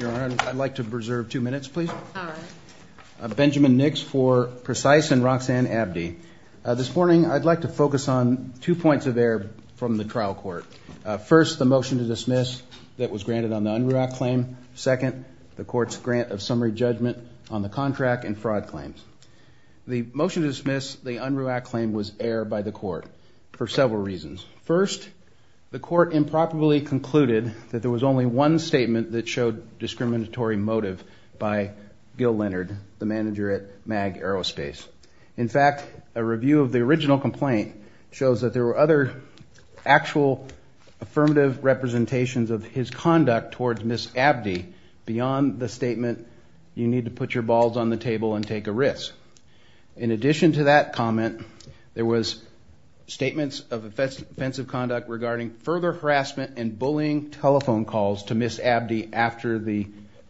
Your Honor, I'd like to reserve two minutes, please. All right. Benjamin Nix for Precise and Roxanne Abde. This morning, I'd like to focus on two points of error from the trial court. First, the motion to dismiss that was granted on the UNRWAC claim. Second, the court's grant of summary judgment on the contract and fraud claims. The motion to dismiss the UNRWAC claim was error by the court for several reasons. First, the court improperly concluded that there was only one statement that showed discriminatory motive by Gil Leonard, the manager at MAG Aerospace. In fact, a review of the original complaint shows that there were other actual affirmative representations of his conduct towards Ms. Abde beyond the statement, you need to put your balls on the table and take a risk. In addition to that comment, there was statements of offensive conduct regarding further harassment and bullying telephone calls to Ms. Abde after the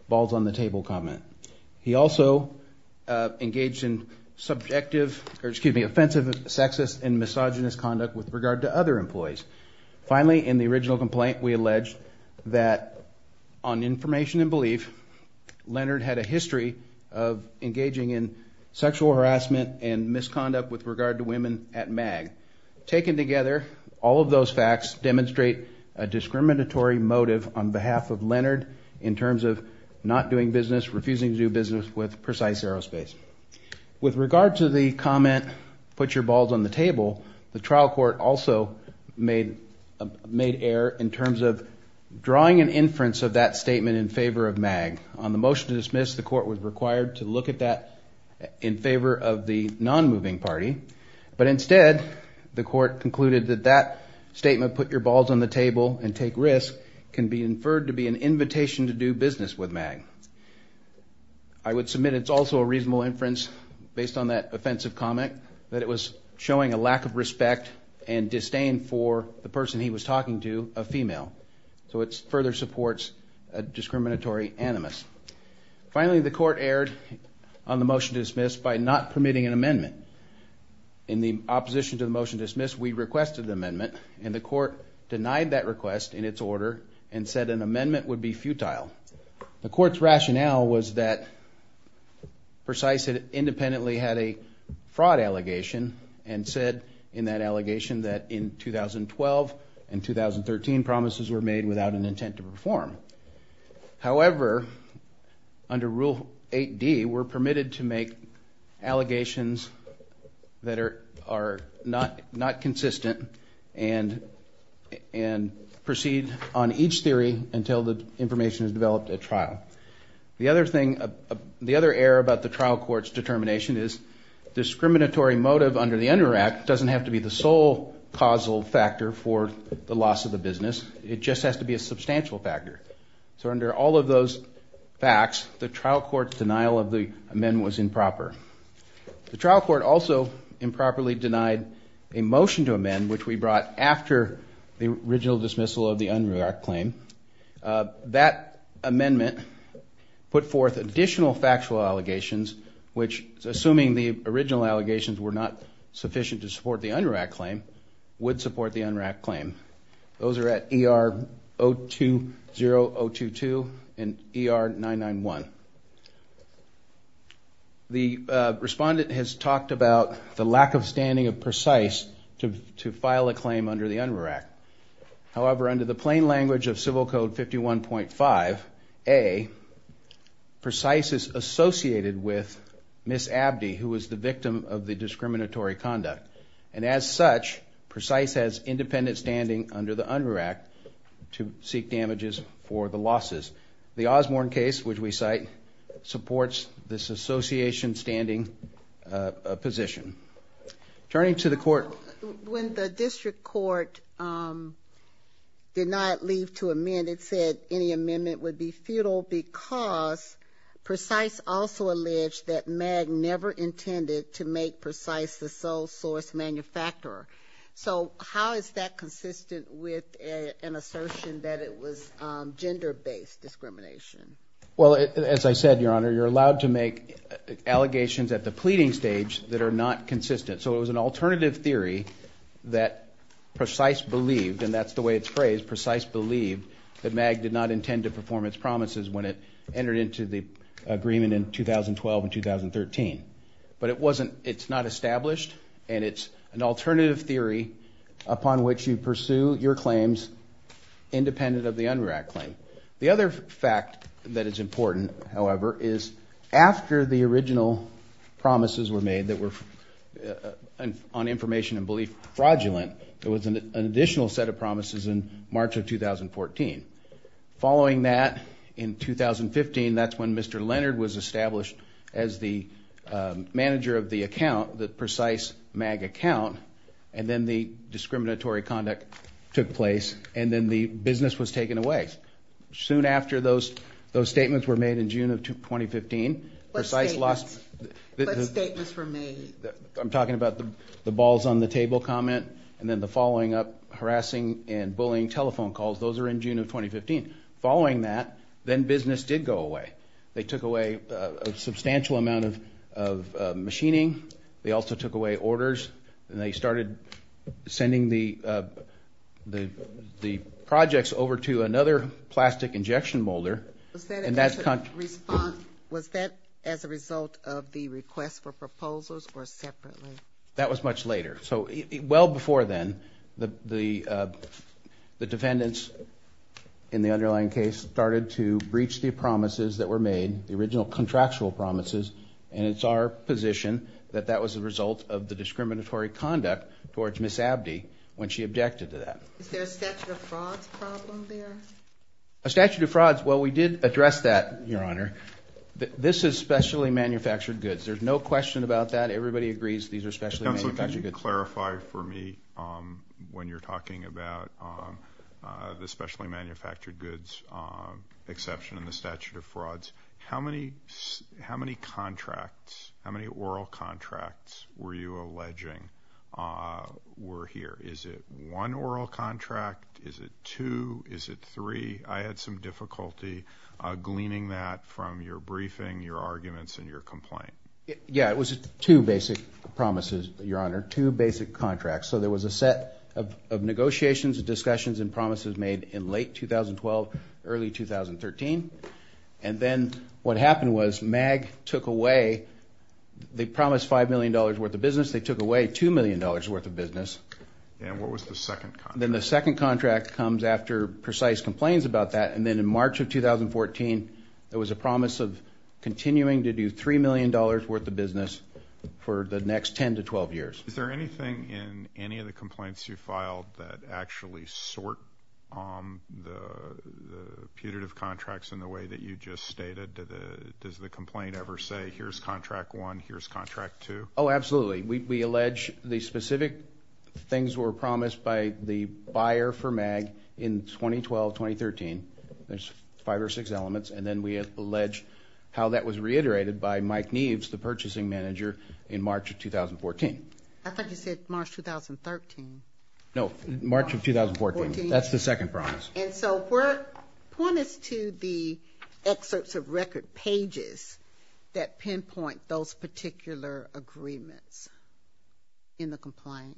balls on the table comment. He also engaged in subjective, or excuse me, offensive, sexist, and misogynist conduct with regard to other employees. Finally, in the original complaint, we alleged that on information and belief, Leonard had a history of engaging in sexual harassment and misconduct with regard to women at MAG. Taken together, all of those facts demonstrate a discriminatory motive on behalf of Leonard in terms of not doing business, refusing to do business with Precise Aerospace. With regard to the comment, put your balls on the table, the trial court also made error in terms of drawing an inference of that statement in favor of MAG. On the motion to dismiss, the court was required to look at that in favor of the non-moving party. But instead, the court concluded that that statement, put your balls on the table and take risk, can be inferred to be an invitation to do business with MAG. I would submit it's also a reasonable inference, based on that offensive comment, that it was showing a lack of respect and disdain for the person he was talking to, a female. So it further supports a discriminatory animus. Finally, the court erred on the motion to dismiss by not permitting an amendment. In the opposition to the motion to dismiss, we requested an amendment, and the court denied that request in its order and said an amendment would be futile. The court's rationale was that Precise independently had a fraud allegation and said in that allegation that in 2012 and 2013 promises were made without an intent to perform. However, under Rule 8D, we're permitted to make allegations that are not consistent and proceed on each theory until the information is developed at trial. The other error about the trial court's determination is discriminatory motive under the UNDER Act doesn't have to be the sole causal factor for the loss of the business. It just has to be a substantial factor. So under all of those facts, the trial court's denial of the amendment was improper. The trial court also improperly denied a motion to amend, which we brought after the original dismissal of the UNDER Act claim. That amendment put forth additional factual allegations, which, assuming the original allegations were not sufficient to support the UNDER Act claim, would support the UNDER Act claim. Those are at ER 020022 and ER 991. The respondent has talked about the lack of standing of Precise to file a claim under the UNDER Act. However, under the plain language of Civil Code 51.5a, Precise is associated with Ms. Abdee, who was the victim of the discriminatory conduct. And as such, Precise has independent standing under the UNDER Act to seek damages for the losses. The Osborne case, which we cite, supports this association standing position. Turning to the court. When the district court did not leave to amend, it said any amendment would be futile because Precise also alleged that MAG never intended to make Precise the sole source manufacturer. So how is that consistent with an assertion that it was gender-based discrimination? Well, as I said, Your Honor, you're allowed to make allegations at the pleading stage that are not consistent. So it was an alternative theory that Precise believed, and that's the way it's phrased, Precise believed that MAG did not intend to perform its promises when it entered into the agreement in 2012 and 2013. But it's not established, and it's an alternative theory upon which you pursue your claims independent of the UNDER Act claim. The other fact that is important, however, is after the original promises were made that were on information and belief fraudulent, there was an additional set of promises in March of 2014. Following that, in 2015, that's when Mr. Leonard was established as the manager of the account, the Precise MAG account, and then the discriminatory conduct took place, and then the business was taken away. Soon after those statements were made in June of 2015, Precise lost... What statements? What statements were made? I'm talking about the balls-on-the-table comment, and then the following up harassing and bullying telephone calls. Those were in June of 2015. Following that, then business did go away. They took away a substantial amount of machining. They also took away orders, and they started sending the projects over to another plastic injection molder. Was that as a result of the request for proposals or separately? That was much later. Well before then, the defendants in the underlying case started to breach the promises that were made, the original contractual promises, and it's our position that that was a result of the discriminatory conduct towards Ms. Abde when she objected to that. Is there a statute of frauds problem there? A statute of frauds, well, we did address that, Your Honor. This is specially manufactured goods. There's no question about that. Everybody agrees these are specially manufactured goods. Just to clarify for me when you're talking about the specially manufactured goods exception in the statute of frauds, how many oral contracts were you alleging were here? Is it one oral contract? Is it two? Is it three? I had some difficulty gleaning that from your briefing, your arguments, and your complaint. Yeah, it was two basic promises, Your Honor, two basic contracts. So there was a set of negotiations, discussions, and promises made in late 2012, early 2013, and then what happened was MAG took away, they promised $5 million worth of business. They took away $2 million worth of business. And what was the second contract? Then the second contract comes after precise complaints about that, and then in March of 2014, there was a promise of continuing to do $3 million worth of business for the next 10 to 12 years. Is there anything in any of the complaints you filed that actually sort the putative contracts in the way that you just stated? Does the complaint ever say here's contract one, here's contract two? Oh, absolutely. We allege the specific things were promised by the buyer for MAG in 2012-2013, there's five or six elements, and then we allege how that was reiterated by Mike Neves, the purchasing manager, in March of 2014. I thought you said March 2013. No, March of 2014. That's the second promise. And so point us to the excerpts of record pages that pinpoint those particular agreements in the complaint.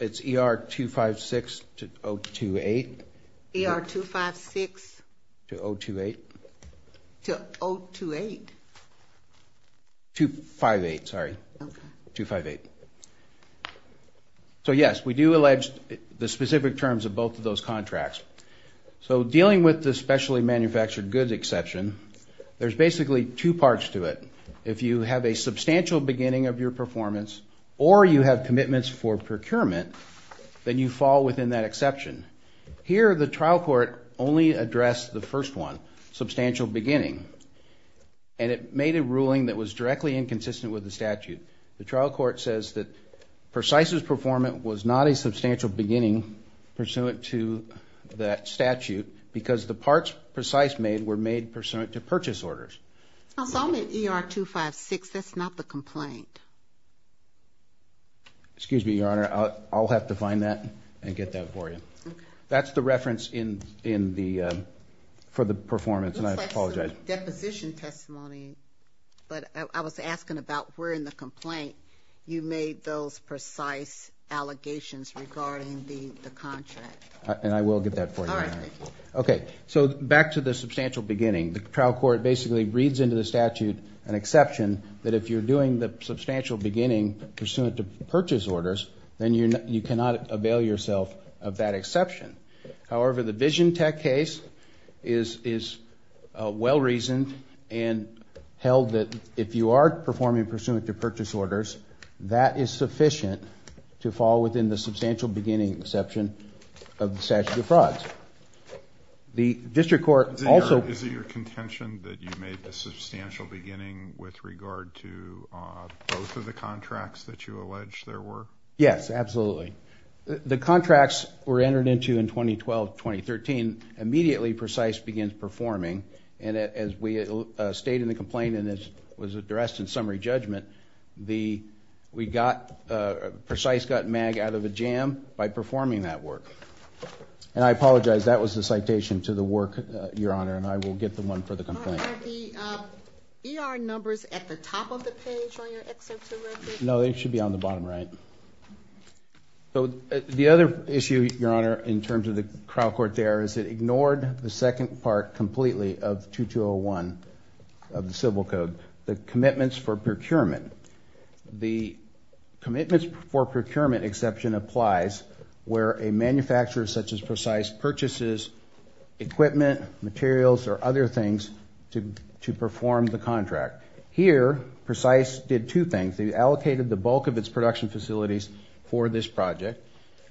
It's ER256-028. ER256? To 028. To 028? 258, sorry. Okay. 258. So, yes, we do allege the specific terms of both of those contracts. So dealing with the specially manufactured goods exception, there's basically two parts to it. If you have a substantial beginning of your performance or you have commitments for procurement, then you fall within that exception. Here, the trial court only addressed the first one, substantial beginning, and it made a ruling that was directly inconsistent with the statute. The trial court says that PRECISE's performance was not a substantial beginning pursuant to that statute because the parts PRECISE made were made pursuant to purchase orders. So I'm at ER256, that's not the complaint. Excuse me, Your Honor, I'll have to find that and get that for you. Okay. That's the reference for the performance, and I apologize. It looks like some deposition testimony, but I was asking about where in the complaint you made those PRECISE allegations regarding the contract. And I will get that for you, Your Honor. All right, thank you. Okay, so back to the substantial beginning. The trial court basically reads into the statute an exception that if you're doing the substantial beginning pursuant to purchase orders, then you cannot avail yourself of that exception. However, the Vision Tech case is well-reasoned and held that if you are performing pursuant to purchase orders, that is sufficient to fall within the substantial beginning exception of the statute of frauds. Is it your contention that you made the substantial beginning with regard to both of the contracts that you allege there were? Yes, absolutely. The contracts were entered into in 2012-2013. Immediately PRECISE begins performing, and as we state in the complaint and as was addressed in summary judgment, PRECISE got MAG out of a jam by performing that work. And I apologize, that was the citation to the work, Your Honor, and I will get the one for the complaint. Are the ER numbers at the top of the page on your Excel tool record? No, they should be on the bottom right. The other issue, Your Honor, in terms of the trial court there is it ignored the second part completely of 2201 of the Civil Code, the commitments for procurement. The commitments for procurement exception applies where a manufacturer such as PRECISE purchases equipment, materials, or other things to perform the contract. Here PRECISE did two things. They allocated the bulk of its production facilities for this project.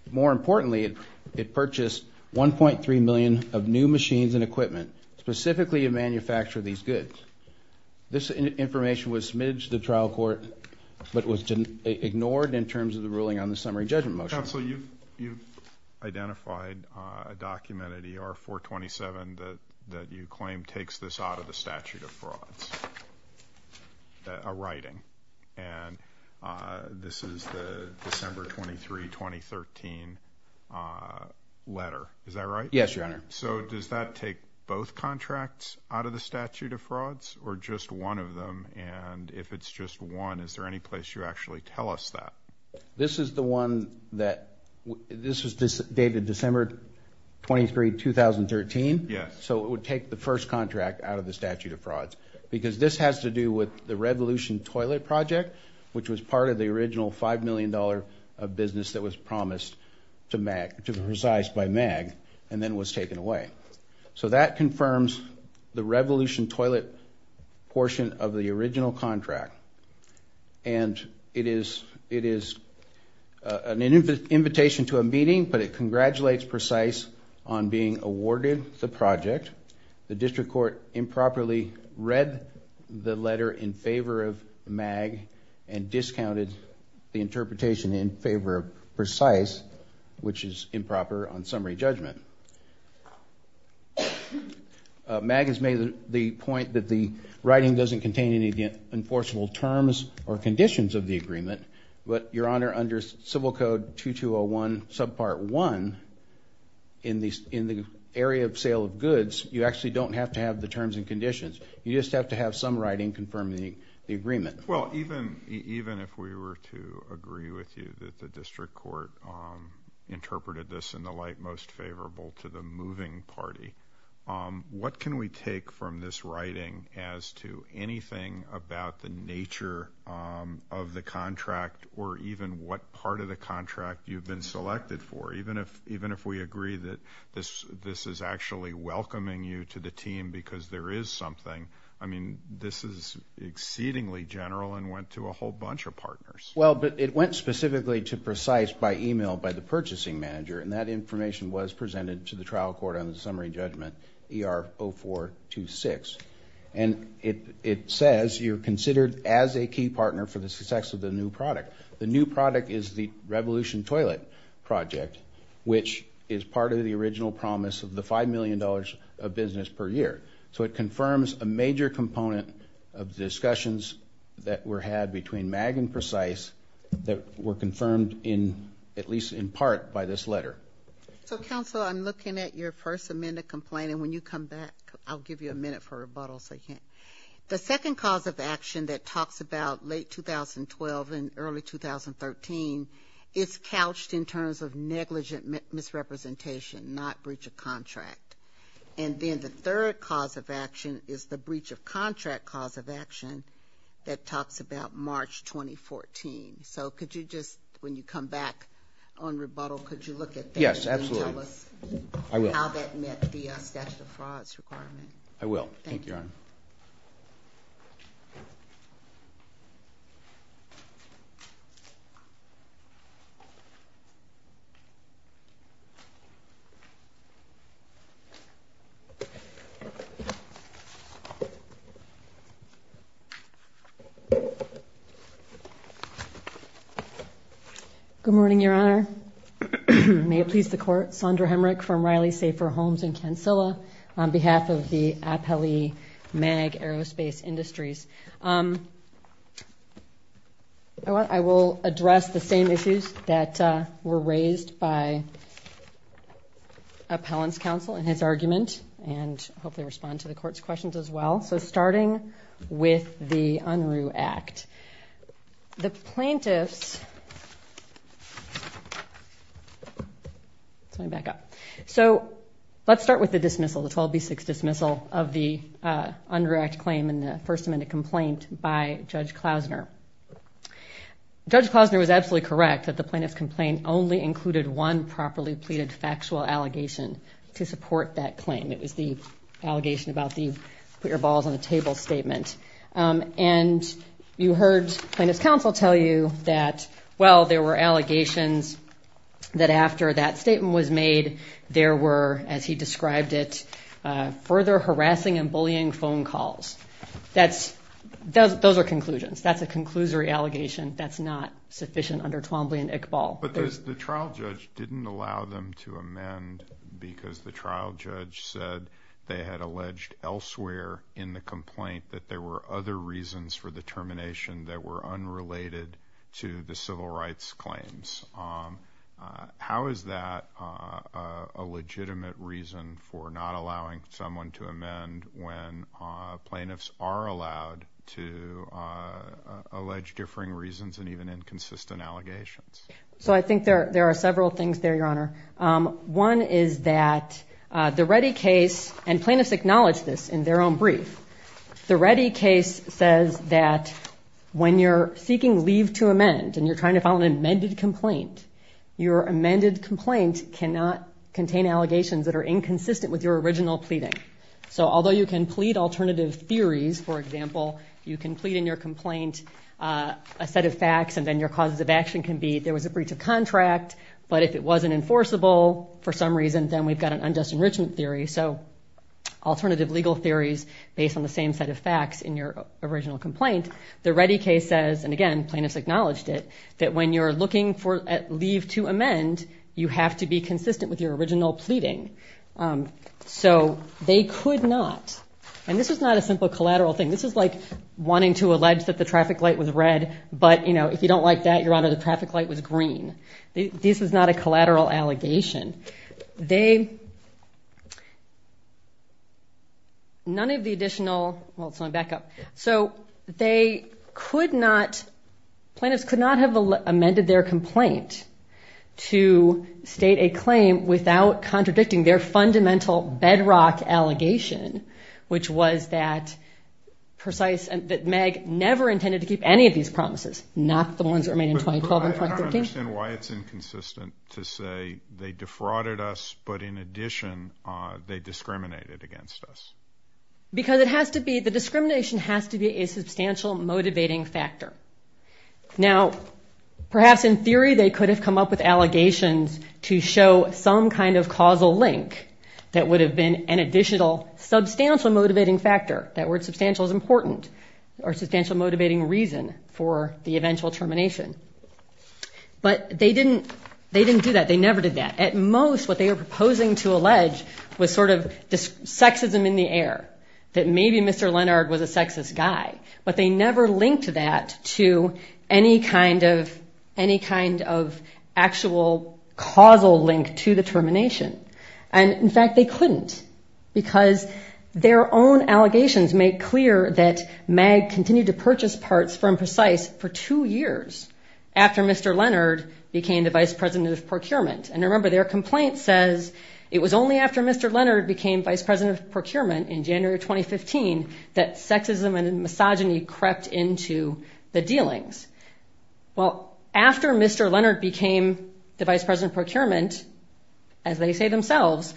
More importantly, it purchased 1.3 million of new machines and equipment specifically to manufacture these goods. This information was submitted to the trial court, but it was ignored in terms of the ruling on the summary judgment motion. Counsel, you've identified a document at ER-427 that you claim takes this out of the statute of frauds, a writing. And this is the December 23, 2013 letter, is that right? Yes, Your Honor. So does that take both contracts out of the statute of frauds or just one of them? And if it's just one, is there any place you actually tell us that? This is the one that this was dated December 23, 2013. Yes. So it would take the first contract out of the statute of frauds because this has to do with the Revolution Toilet Project, which was part of the original $5 million of business that was promised to PRECISE by MAG and then was taken away. So that confirms the Revolution Toilet portion of the original contract. And it is an invitation to a meeting, but it congratulates PRECISE on being awarded the project. The district court improperly read the letter in favor of MAG and discounted the interpretation in favor of PRECISE, which is improper on summary judgment. MAG has made the point that the writing doesn't contain any enforceable terms or conditions of the agreement, but, Your Honor, under Civil Code 2201, Subpart 1, in the area of sale of goods, you actually don't have to have the terms and conditions. You just have to have some writing confirming the agreement. Well, even if we were to agree with you that the district court interpreted this in the light most favorable to the moving party, what can we take from this writing as to anything about the nature of the contract or even what part of the contract you've been selected for? Even if we agree that this is actually welcoming you to the team because there is something, I mean, this is exceedingly general and went to a whole bunch of partners. Well, but it went specifically to PRECISE by email by the purchasing manager, and that information was presented to the trial court on the summary judgment ER0426. And it says you're considered as a key partner for the success of the new product. The new product is the Revolution Toilet project, which is part of the original promise of the $5 million of business per year. So it confirms a major component of discussions that were had between MAG and PRECISE that were confirmed in at least in part by this letter. So, counsel, I'm looking at your First Amendment complaint, and when you come back, I'll give you a minute for rebuttals if I can. The second cause of action that talks about late 2012 and early 2013 is couched in terms of negligent misrepresentation, not breach of contract. And then the third cause of action is the breach of contract cause of action that talks about March 2014. So could you just, when you come back on rebuttal, could you look at that? Yes, absolutely. And tell us how that met the statute of frauds requirement. Thank you, Your Honor. Good morning, Your Honor. May it please the Court. Sondra Hemrick from Riley Safer Homes in Kansilla on behalf of the appellee MAG Aerospace Industries. I will address the same issues that were raised by appellant's counsel in his argument and hopefully respond to the Court's questions as well. So starting with the Unruh Act. The plaintiffs... Let me back up. So let's start with the dismissal, the 12B6 dismissal of the Unruh Act claim and the First Amendment complaint by Judge Klausner. Judge Klausner was absolutely correct that the plaintiff's complaint only included one properly pleaded factual allegation to support that claim. It was the allegation about the put your balls on the table statement. And you heard plaintiff's counsel tell you that, well, there were allegations that after that statement was made, there were, as he described it, further harassing and bullying phone calls. Those are conclusions. That's a conclusory allegation. That's not sufficient under 12B and ICBAL. But the trial judge didn't allow them to amend because the trial judge said they had alleged elsewhere in the complaint that there were other reasons for the termination that were unrelated to the civil rights claims. How is that a legitimate reason for not allowing someone to amend when plaintiffs are allowed to allege differing reasons and even inconsistent allegations? So I think there are several things there, Your Honor. One is that the Reddy case, and plaintiffs acknowledge this in their own brief, the Reddy case says that when you're seeking leave to amend and you're trying to file an amended complaint, your amended complaint cannot contain allegations that are inconsistent with your original pleading. So although you can plead alternative theories, for example, you can plead in your complaint a set of facts and then your causes of action can be there was a breach of contract, but if it wasn't enforceable for some reason, then we've got an unjust enrichment theory. So alternative legal theories based on the same set of facts in your original complaint. The Reddy case says, and again, plaintiffs acknowledged it, that when you're looking for leave to amend, you have to be consistent with your original pleading. So they could not. And this is not a simple collateral thing. This is like wanting to allege that the traffic light was red, but if you don't like that, your honor, the traffic light was green. This is not a collateral allegation. They, none of the additional, well, so I'm back up. So they could not, plaintiffs could not have amended their complaint to state a claim without contradicting their fundamental bedrock allegation, which was that precise, that Meg never intended to keep any of these promises, not the ones that were made in 2012 and 2013. I don't understand why it's inconsistent to say they defrauded us, but in addition, they discriminated against us. Because it has to be, the discrimination has to be a substantial motivating factor. Now, perhaps in theory, they could have come up with allegations to show some kind of causal link that would have been an additional substantial motivating factor. That word substantial is important, or substantial motivating reason for the eventual termination. But they didn't do that. They never did that. At most, what they were proposing to allege was sort of sexism in the air, that maybe Mr. Lennard was a sexist guy. But they never linked that to any kind of actual causal link to the termination. And, in fact, they couldn't, because their own allegations make clear that Meg continued to purchase parts from Precise for two years after Mr. Lennard became the vice president of procurement. And remember, their complaint says it was only after Mr. Lennard became vice president of procurement in January 2015 that sexism and misogyny crept into the dealings. Well, after Mr. Lennard became the vice president of procurement, as they say themselves,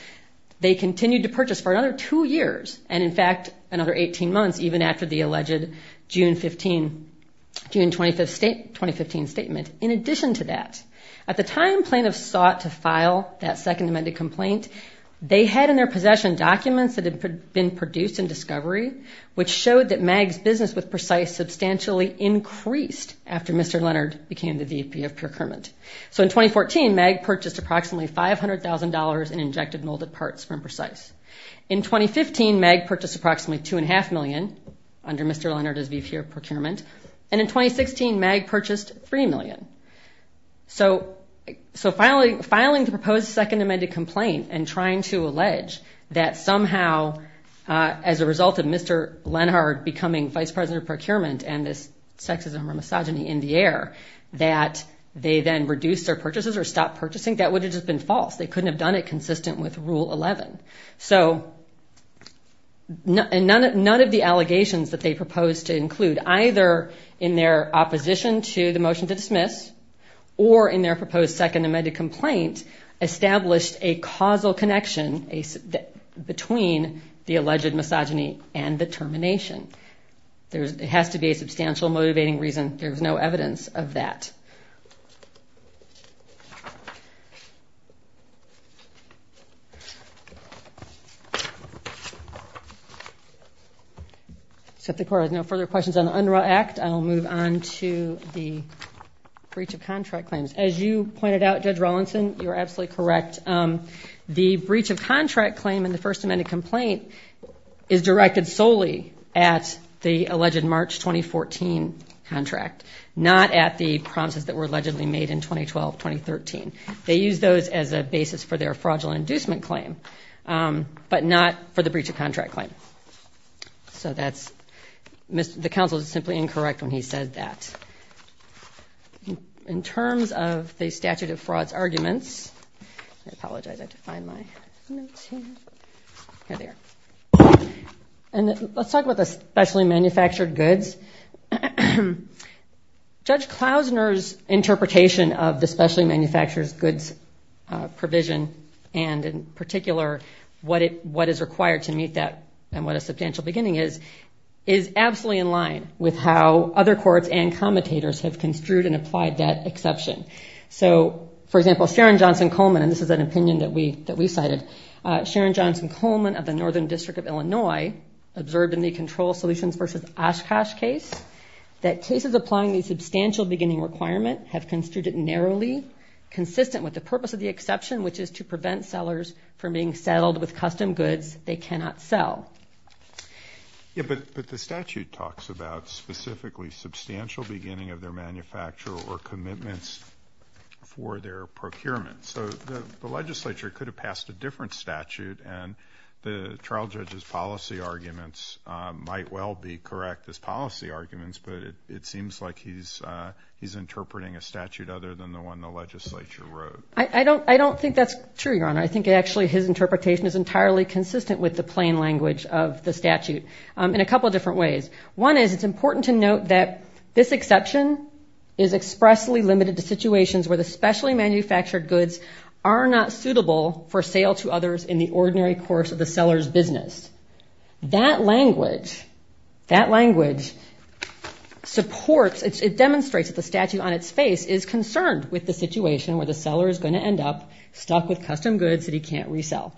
they continued to purchase for another two years, and, in fact, another 18 months, even after the alleged June 2015 statement. In addition to that, at the time plaintiffs sought to file that second amended complaint, they had in their possession documents that had been produced in discovery, which showed that Meg's business with Precise substantially increased after Mr. Lennard became the VP of procurement. So in 2014, Meg purchased approximately $500,000 in injected molded parts from Precise. In 2015, Meg purchased approximately $2.5 million under Mr. Lennard as VP of procurement. And in 2016, Meg purchased $3 million. So filing the proposed second amended complaint and trying to allege that somehow, as a result of Mr. Lennard becoming vice president of procurement and this sexism or misogyny in the air, that they then reduced their purchases or stopped purchasing, that would have just been false. They couldn't have done it consistent with Rule 11. So none of the allegations that they proposed to include, either in their opposition to the motion to dismiss or in their proposed second amended complaint, established a causal connection between the alleged misogyny and the termination. It has to be a substantial motivating reason. There is no evidence of that. So if the Court has no further questions on the UNRWA Act, I will move on to the breach of contract claims. As you pointed out, Judge Rawlinson, you are absolutely correct. The breach of contract claim in the first amended complaint is directed solely at the alleged March 2014 contract, not at the promises that were allegedly made in 2012-2013. They used those as a basis for their fraudulent inducement claim, but not for the breach of contract claim. So the counsel is simply incorrect when he says that. In terms of the statute of frauds arguments, I apologize, I have to find my notes here. Here they are. And let's talk about the specially manufactured goods. Judge Klausner's interpretation of the specially manufactured goods provision, and in particular what is required to meet that and what a substantial beginning is, is absolutely in line with how other courts and commentators have construed and applied that exception. So, for example, Sharon Johnson Coleman, and this is an opinion that we cited, Sharon Johnson Coleman of the Northern District of Illinois observed in the Control Solutions v. Oshkosh case that cases applying the substantial beginning requirement have construed it narrowly, consistent with the purpose of the exception, which is to prevent sellers from being settled with custom goods they cannot sell. Yeah, but the statute talks about specifically substantial beginning of their manufacture or commitments for their procurement. So the legislature could have passed a different statute, and the trial judge's policy arguments might well be correct as policy arguments, but it seems like he's interpreting a statute other than the one the legislature wrote. I don't think that's true, Your Honor. I think actually his interpretation is entirely consistent with the plain language of the statute in a couple different ways. One is it's important to note that this exception is expressly limited to situations where the specially manufactured goods are not suitable for sale to others in the ordinary course of the seller's business. That language supports, it demonstrates that the statute on its face is concerned with the situation where the seller is going to end up stuck with custom goods that he can't resell.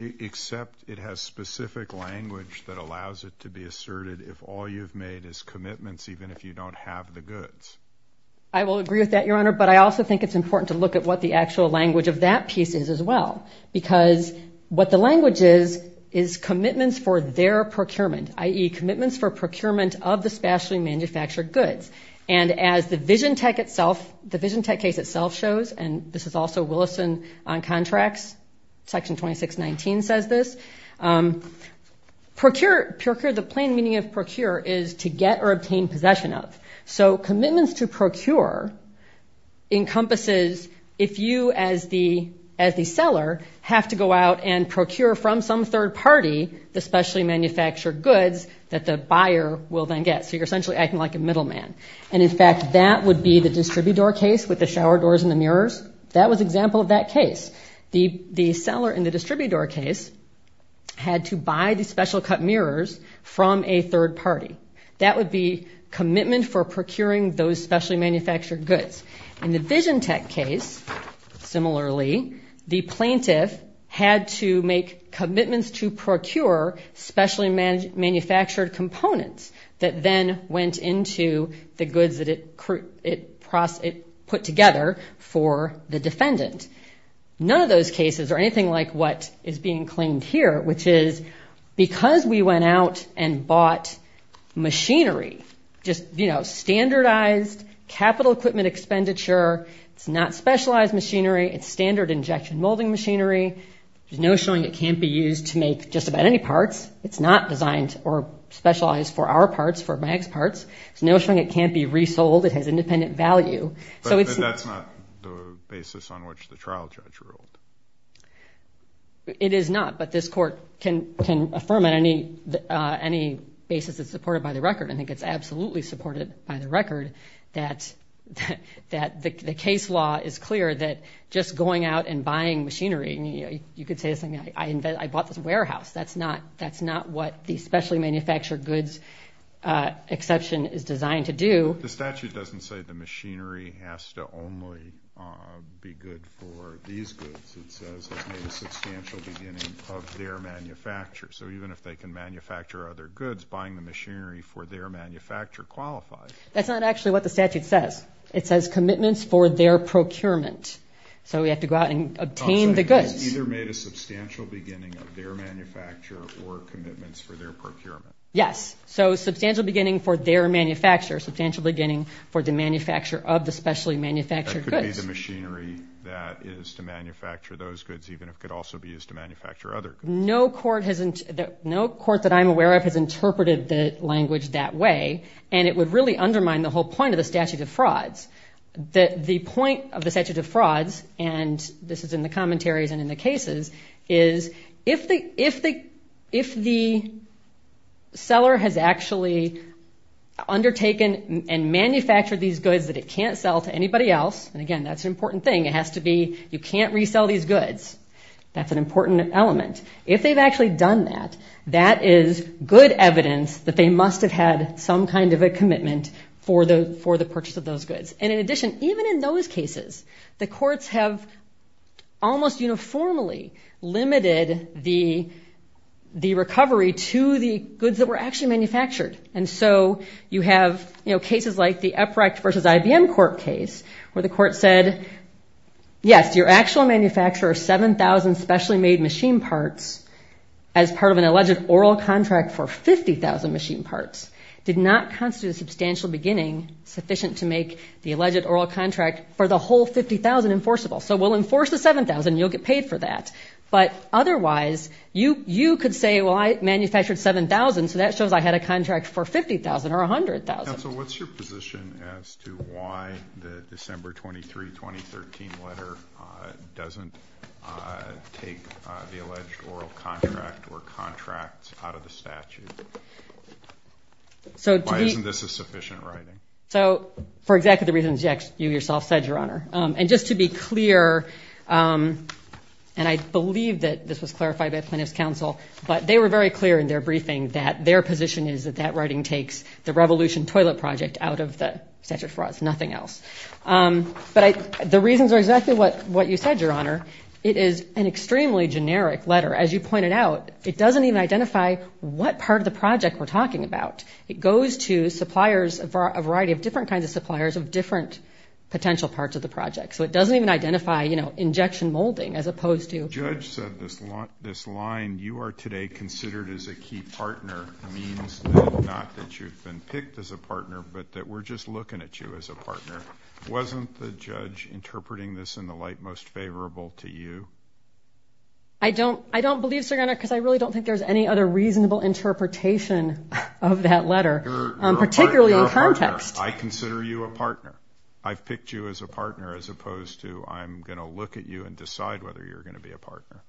Except it has specific language that allows it to be asserted if all you've made is commitments, even if you don't have the goods. I will agree with that, Your Honor, but I also think it's important to look at what the actual language of that piece is as well, because what the language is is commitments for their procurement, i.e., commitments for procurement of the specially manufactured goods. And as the Vision Tech case itself shows, and this is also Willison on contracts, Section 2619 says this, the plain meaning of procure is to get or obtain possession of. So commitments to procure encompasses if you, as the seller, have to go out and procure from some third party the specially manufactured goods that the buyer will then get. So you're essentially acting like a middle man. And, in fact, that would be the distributor case with the shower doors and the mirrors. That was an example of that case. The seller in the distributor case had to buy the special cut mirrors from a third party. That would be commitment for procuring those specially manufactured goods. In the Vision Tech case, similarly, the plaintiff had to make commitments to procure specially manufactured components that then went into the goods that it put together for the defendant. None of those cases are anything like what is being claimed here, which is because we went out and bought machinery, just, you know, standardized capital equipment expenditure, it's not specialized machinery, it's standard injection molding machinery, there's no showing it can't be used to make just about any parts, it's not designed or specialized for our parts, for my ex-parts, there's no showing it can't be resold, it has independent value. But that's not the basis on which the trial judge ruled. It is not, but this court can affirm on any basis that's supported by the record. I think it's absolutely supported by the record that the case law is clear that just going out and buying machinery, you could say something like, I bought this warehouse, that's not what the specially manufactured goods exception is designed to do. The statute doesn't say the machinery has to only be good for these goods, it says it's made a substantial beginning of their manufacture, so even if they can manufacture other goods, buying the machinery for their manufacture qualifies. That's not actually what the statute says. It says commitments for their procurement. So we have to go out and obtain the goods. So it's either made a substantial beginning of their manufacture or commitments for their procurement. Yes. So substantial beginning for their manufacture, substantial beginning for the manufacture of the specially manufactured goods. That could be the machinery that is to manufacture those goods, even if it could also be used to manufacture other goods. No court that I'm aware of has interpreted the language that way, and it would really undermine the whole point of the statute of frauds. The point of the statute of frauds, and this is in the commentaries and in the cases, is if the seller has actually undertaken and manufactured these goods that it can't sell to anybody else, and again, that's an important thing, it has to be, you can't resell these goods. That's an important element. If they've actually done that, that is good evidence that they must have had some kind of a commitment for the purchase of those goods. And in addition, even in those cases, the courts have almost uniformly limited the recovery to the goods that were actually manufactured. And so you have cases like the Uprecht v. IBM court case where the court said, yes, your actual manufacturer of 7,000 specially made machine parts as part of an alleged oral contract for 50,000 machine parts did not constitute a substantial beginning sufficient to make the alleged oral contract for the whole 50,000 enforceable. So we'll enforce the 7,000, you'll get paid for that. But otherwise, you could say, well, I manufactured 7,000, so that shows I had a contract for 50,000 or 100,000. Plaintiffs' counsel, what's your position as to why the December 23, 2013 letter doesn't take the alleged oral contract or contracts out of the statute? Why isn't this a sufficient writing? So for exactly the reasons you yourself said, Your Honor. And just to be clear, and I believe that this was clarified by plaintiffs' counsel, but they were very clear in their briefing that their position is that that writing takes the Revolution Toilet Project out of the statute of frauds, nothing else. But the reasons are exactly what you said, Your Honor. It is an extremely generic letter. As you pointed out, it doesn't even identify what part of the project we're talking about. It goes to suppliers, a variety of different kinds of suppliers of different potential parts of the project. So it doesn't even identify injection molding as opposed to. The judge said this line, You are today considered as a key partner, means not that you've been picked as a partner, but that we're just looking at you as a partner. Wasn't the judge interpreting this in the light most favorable to you? I don't believe so, Your Honor, because I really don't think there's any other reasonable interpretation of that letter, particularly in context. You're a partner. I consider you a partner. I've picked you as a partner as opposed to I'm going to look at you and decide whether you're going to be a partner.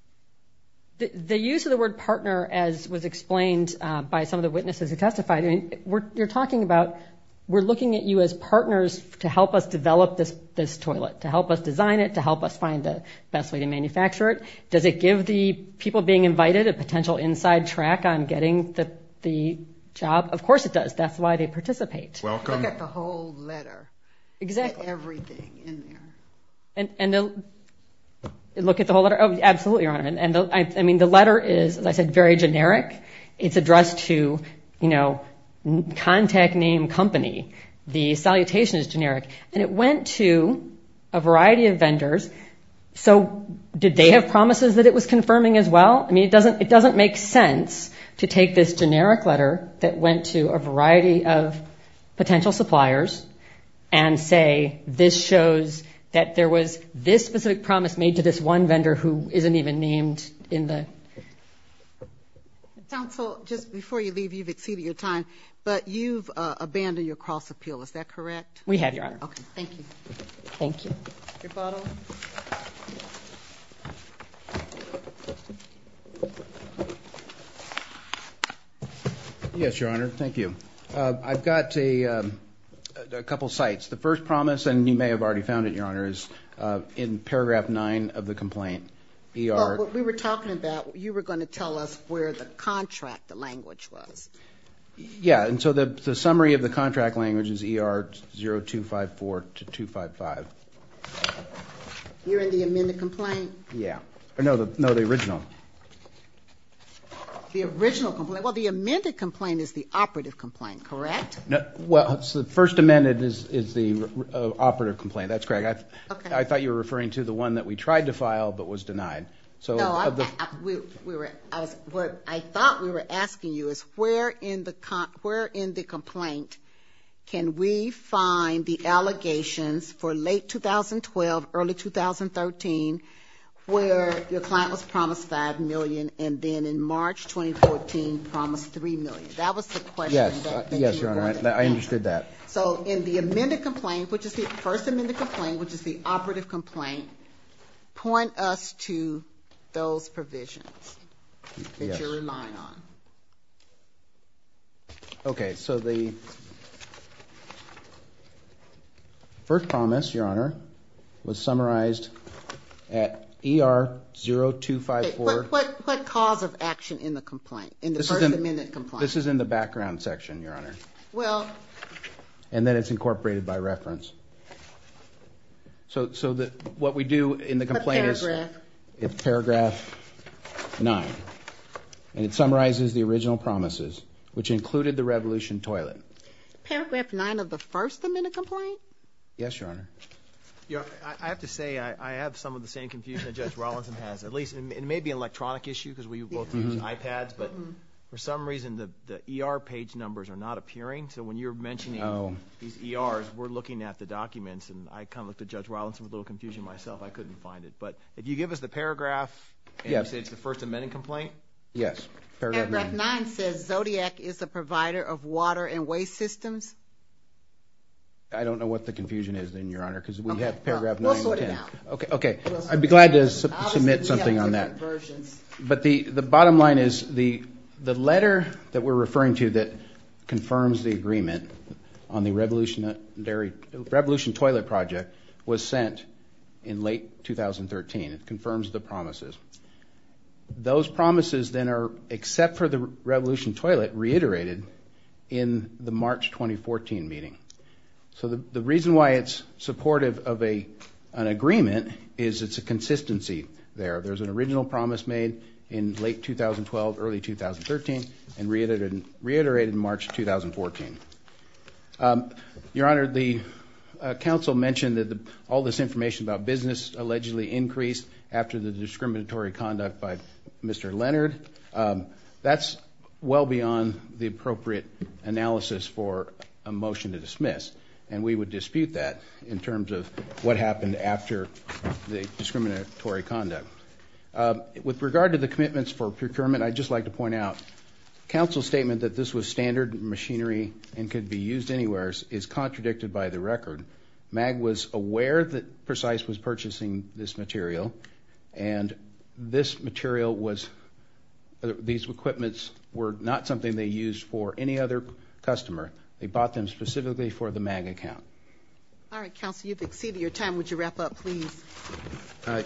The use of the word partner, as was explained by some of the witnesses who testified, you're talking about we're looking at you as partners to help us develop this toilet, to help us design it, to help us find the best way to manufacture it. Does it give the people being invited a potential inside track on getting the job? Of course it does. That's why they participate. Look at the whole letter. Exactly. Get everything in there. And look at the whole letter? Absolutely, Your Honor. I mean, the letter is, as I said, very generic. It's addressed to, you know, contact name company. The salutation is generic. And it went to a variety of vendors. So did they have promises that it was confirming as well? I mean, it doesn't make sense to take this generic letter that went to a variety of potential suppliers and say this shows that there was this specific promise made to this one vendor who isn't even named in the. Counsel, just before you leave, you've exceeded your time, but you've abandoned your cross appeal. Is that correct? We have, Your Honor. Okay. Thank you. Thank you. Your bottle. Yes, Your Honor. Thank you. I've got a couple of sites. The first promise, and you may have already found it, Your Honor, is in paragraph nine of the complaint. What we were talking about, you were going to tell us where the contract language was. Yeah, and so the summary of the contract language is ER 0254 to 255. You're in the amended complaint? Yeah. No, the original. The original complaint. Well, the amended complaint is the operative complaint, correct? Well, the first amended is the operative complaint. That's correct. I thought you were referring to the one that we tried to file but was denied. No, what I thought we were asking you is where in the complaint can we find the allegations for late 2012, early 2013, where your client was promised $5 million and then in March 2014 promised $3 million. That was the question. Yes. Yes, Your Honor. I understood that. So in the amended complaint, which is the first amended complaint, which is the operative complaint, point us to those provisions that you're relying on. Okay, so the first promise, Your Honor, was summarized at ER 0254. What cause of action in the complaint, in the first amended complaint? This is in the background section, Your Honor. And then it's incorporated by reference. So what we do in the complaint is paragraph 9. And it summarizes the original promises, which included the revolution toilet. Paragraph 9 of the first amended complaint? Yes, Your Honor. I have to say I have some of the same confusion that Judge Rawlinson has. At least it may be an electronic issue because we both use iPads, but for some reason the ER page numbers are not appearing. So when you're mentioning these ERs, we're looking at the documents, and I kind of looked at Judge Rawlinson with a little confusion myself. I couldn't find it. But if you give us the paragraph and say it's the first amended complaint. Yes, paragraph 9. Paragraph 9 says Zodiac is a provider of water and waste systems. I don't know what the confusion is then, Your Honor, because we have paragraph 9 and 10. We'll sort it out. Okay. I'd be glad to submit something on that. But the bottom line is the letter that we're referring to that confirms the agreement on the revolution toilet project was sent in late 2013. It confirms the promises. Those promises then are, except for the revolution toilet, reiterated in the March 2014 meeting. So the reason why it's supportive of an agreement is it's a consistency there. There's an original promise made in late 2012, early 2013, and reiterated in March 2014. Your Honor, the counsel mentioned that all this information about business allegedly increased after the discriminatory conduct by Mr. Leonard. That's well beyond the appropriate analysis for a motion to dismiss. And we would dispute that in terms of what happened after the discriminatory conduct. With regard to the commitments for procurement, I'd just like to point out, counsel's statement that this was standard machinery and could be used anywhere is contradicted by the record. MAG was aware that Precise was purchasing this material, and this material was, these equipments were not something they used for any other customer. They bought them specifically for the MAG account. All right, counsel, you've exceeded your time. Would you wrap up, please?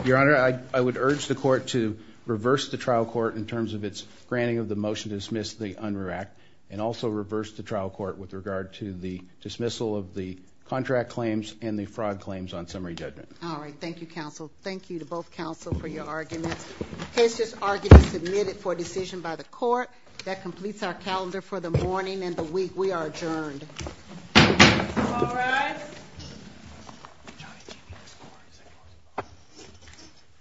Your Honor, I would urge the court to reverse the trial court in terms of its granting of the motion to dismiss the UNRRA Act and also reverse the trial court with regard to the dismissal of the contract claims and the fraud claims on summary judgment. All right. Thank you, counsel. Thank you to both counsel for your arguments. The case is argued and submitted for decision by the court. That completes our calendar for the morning and the week. We are adjourned.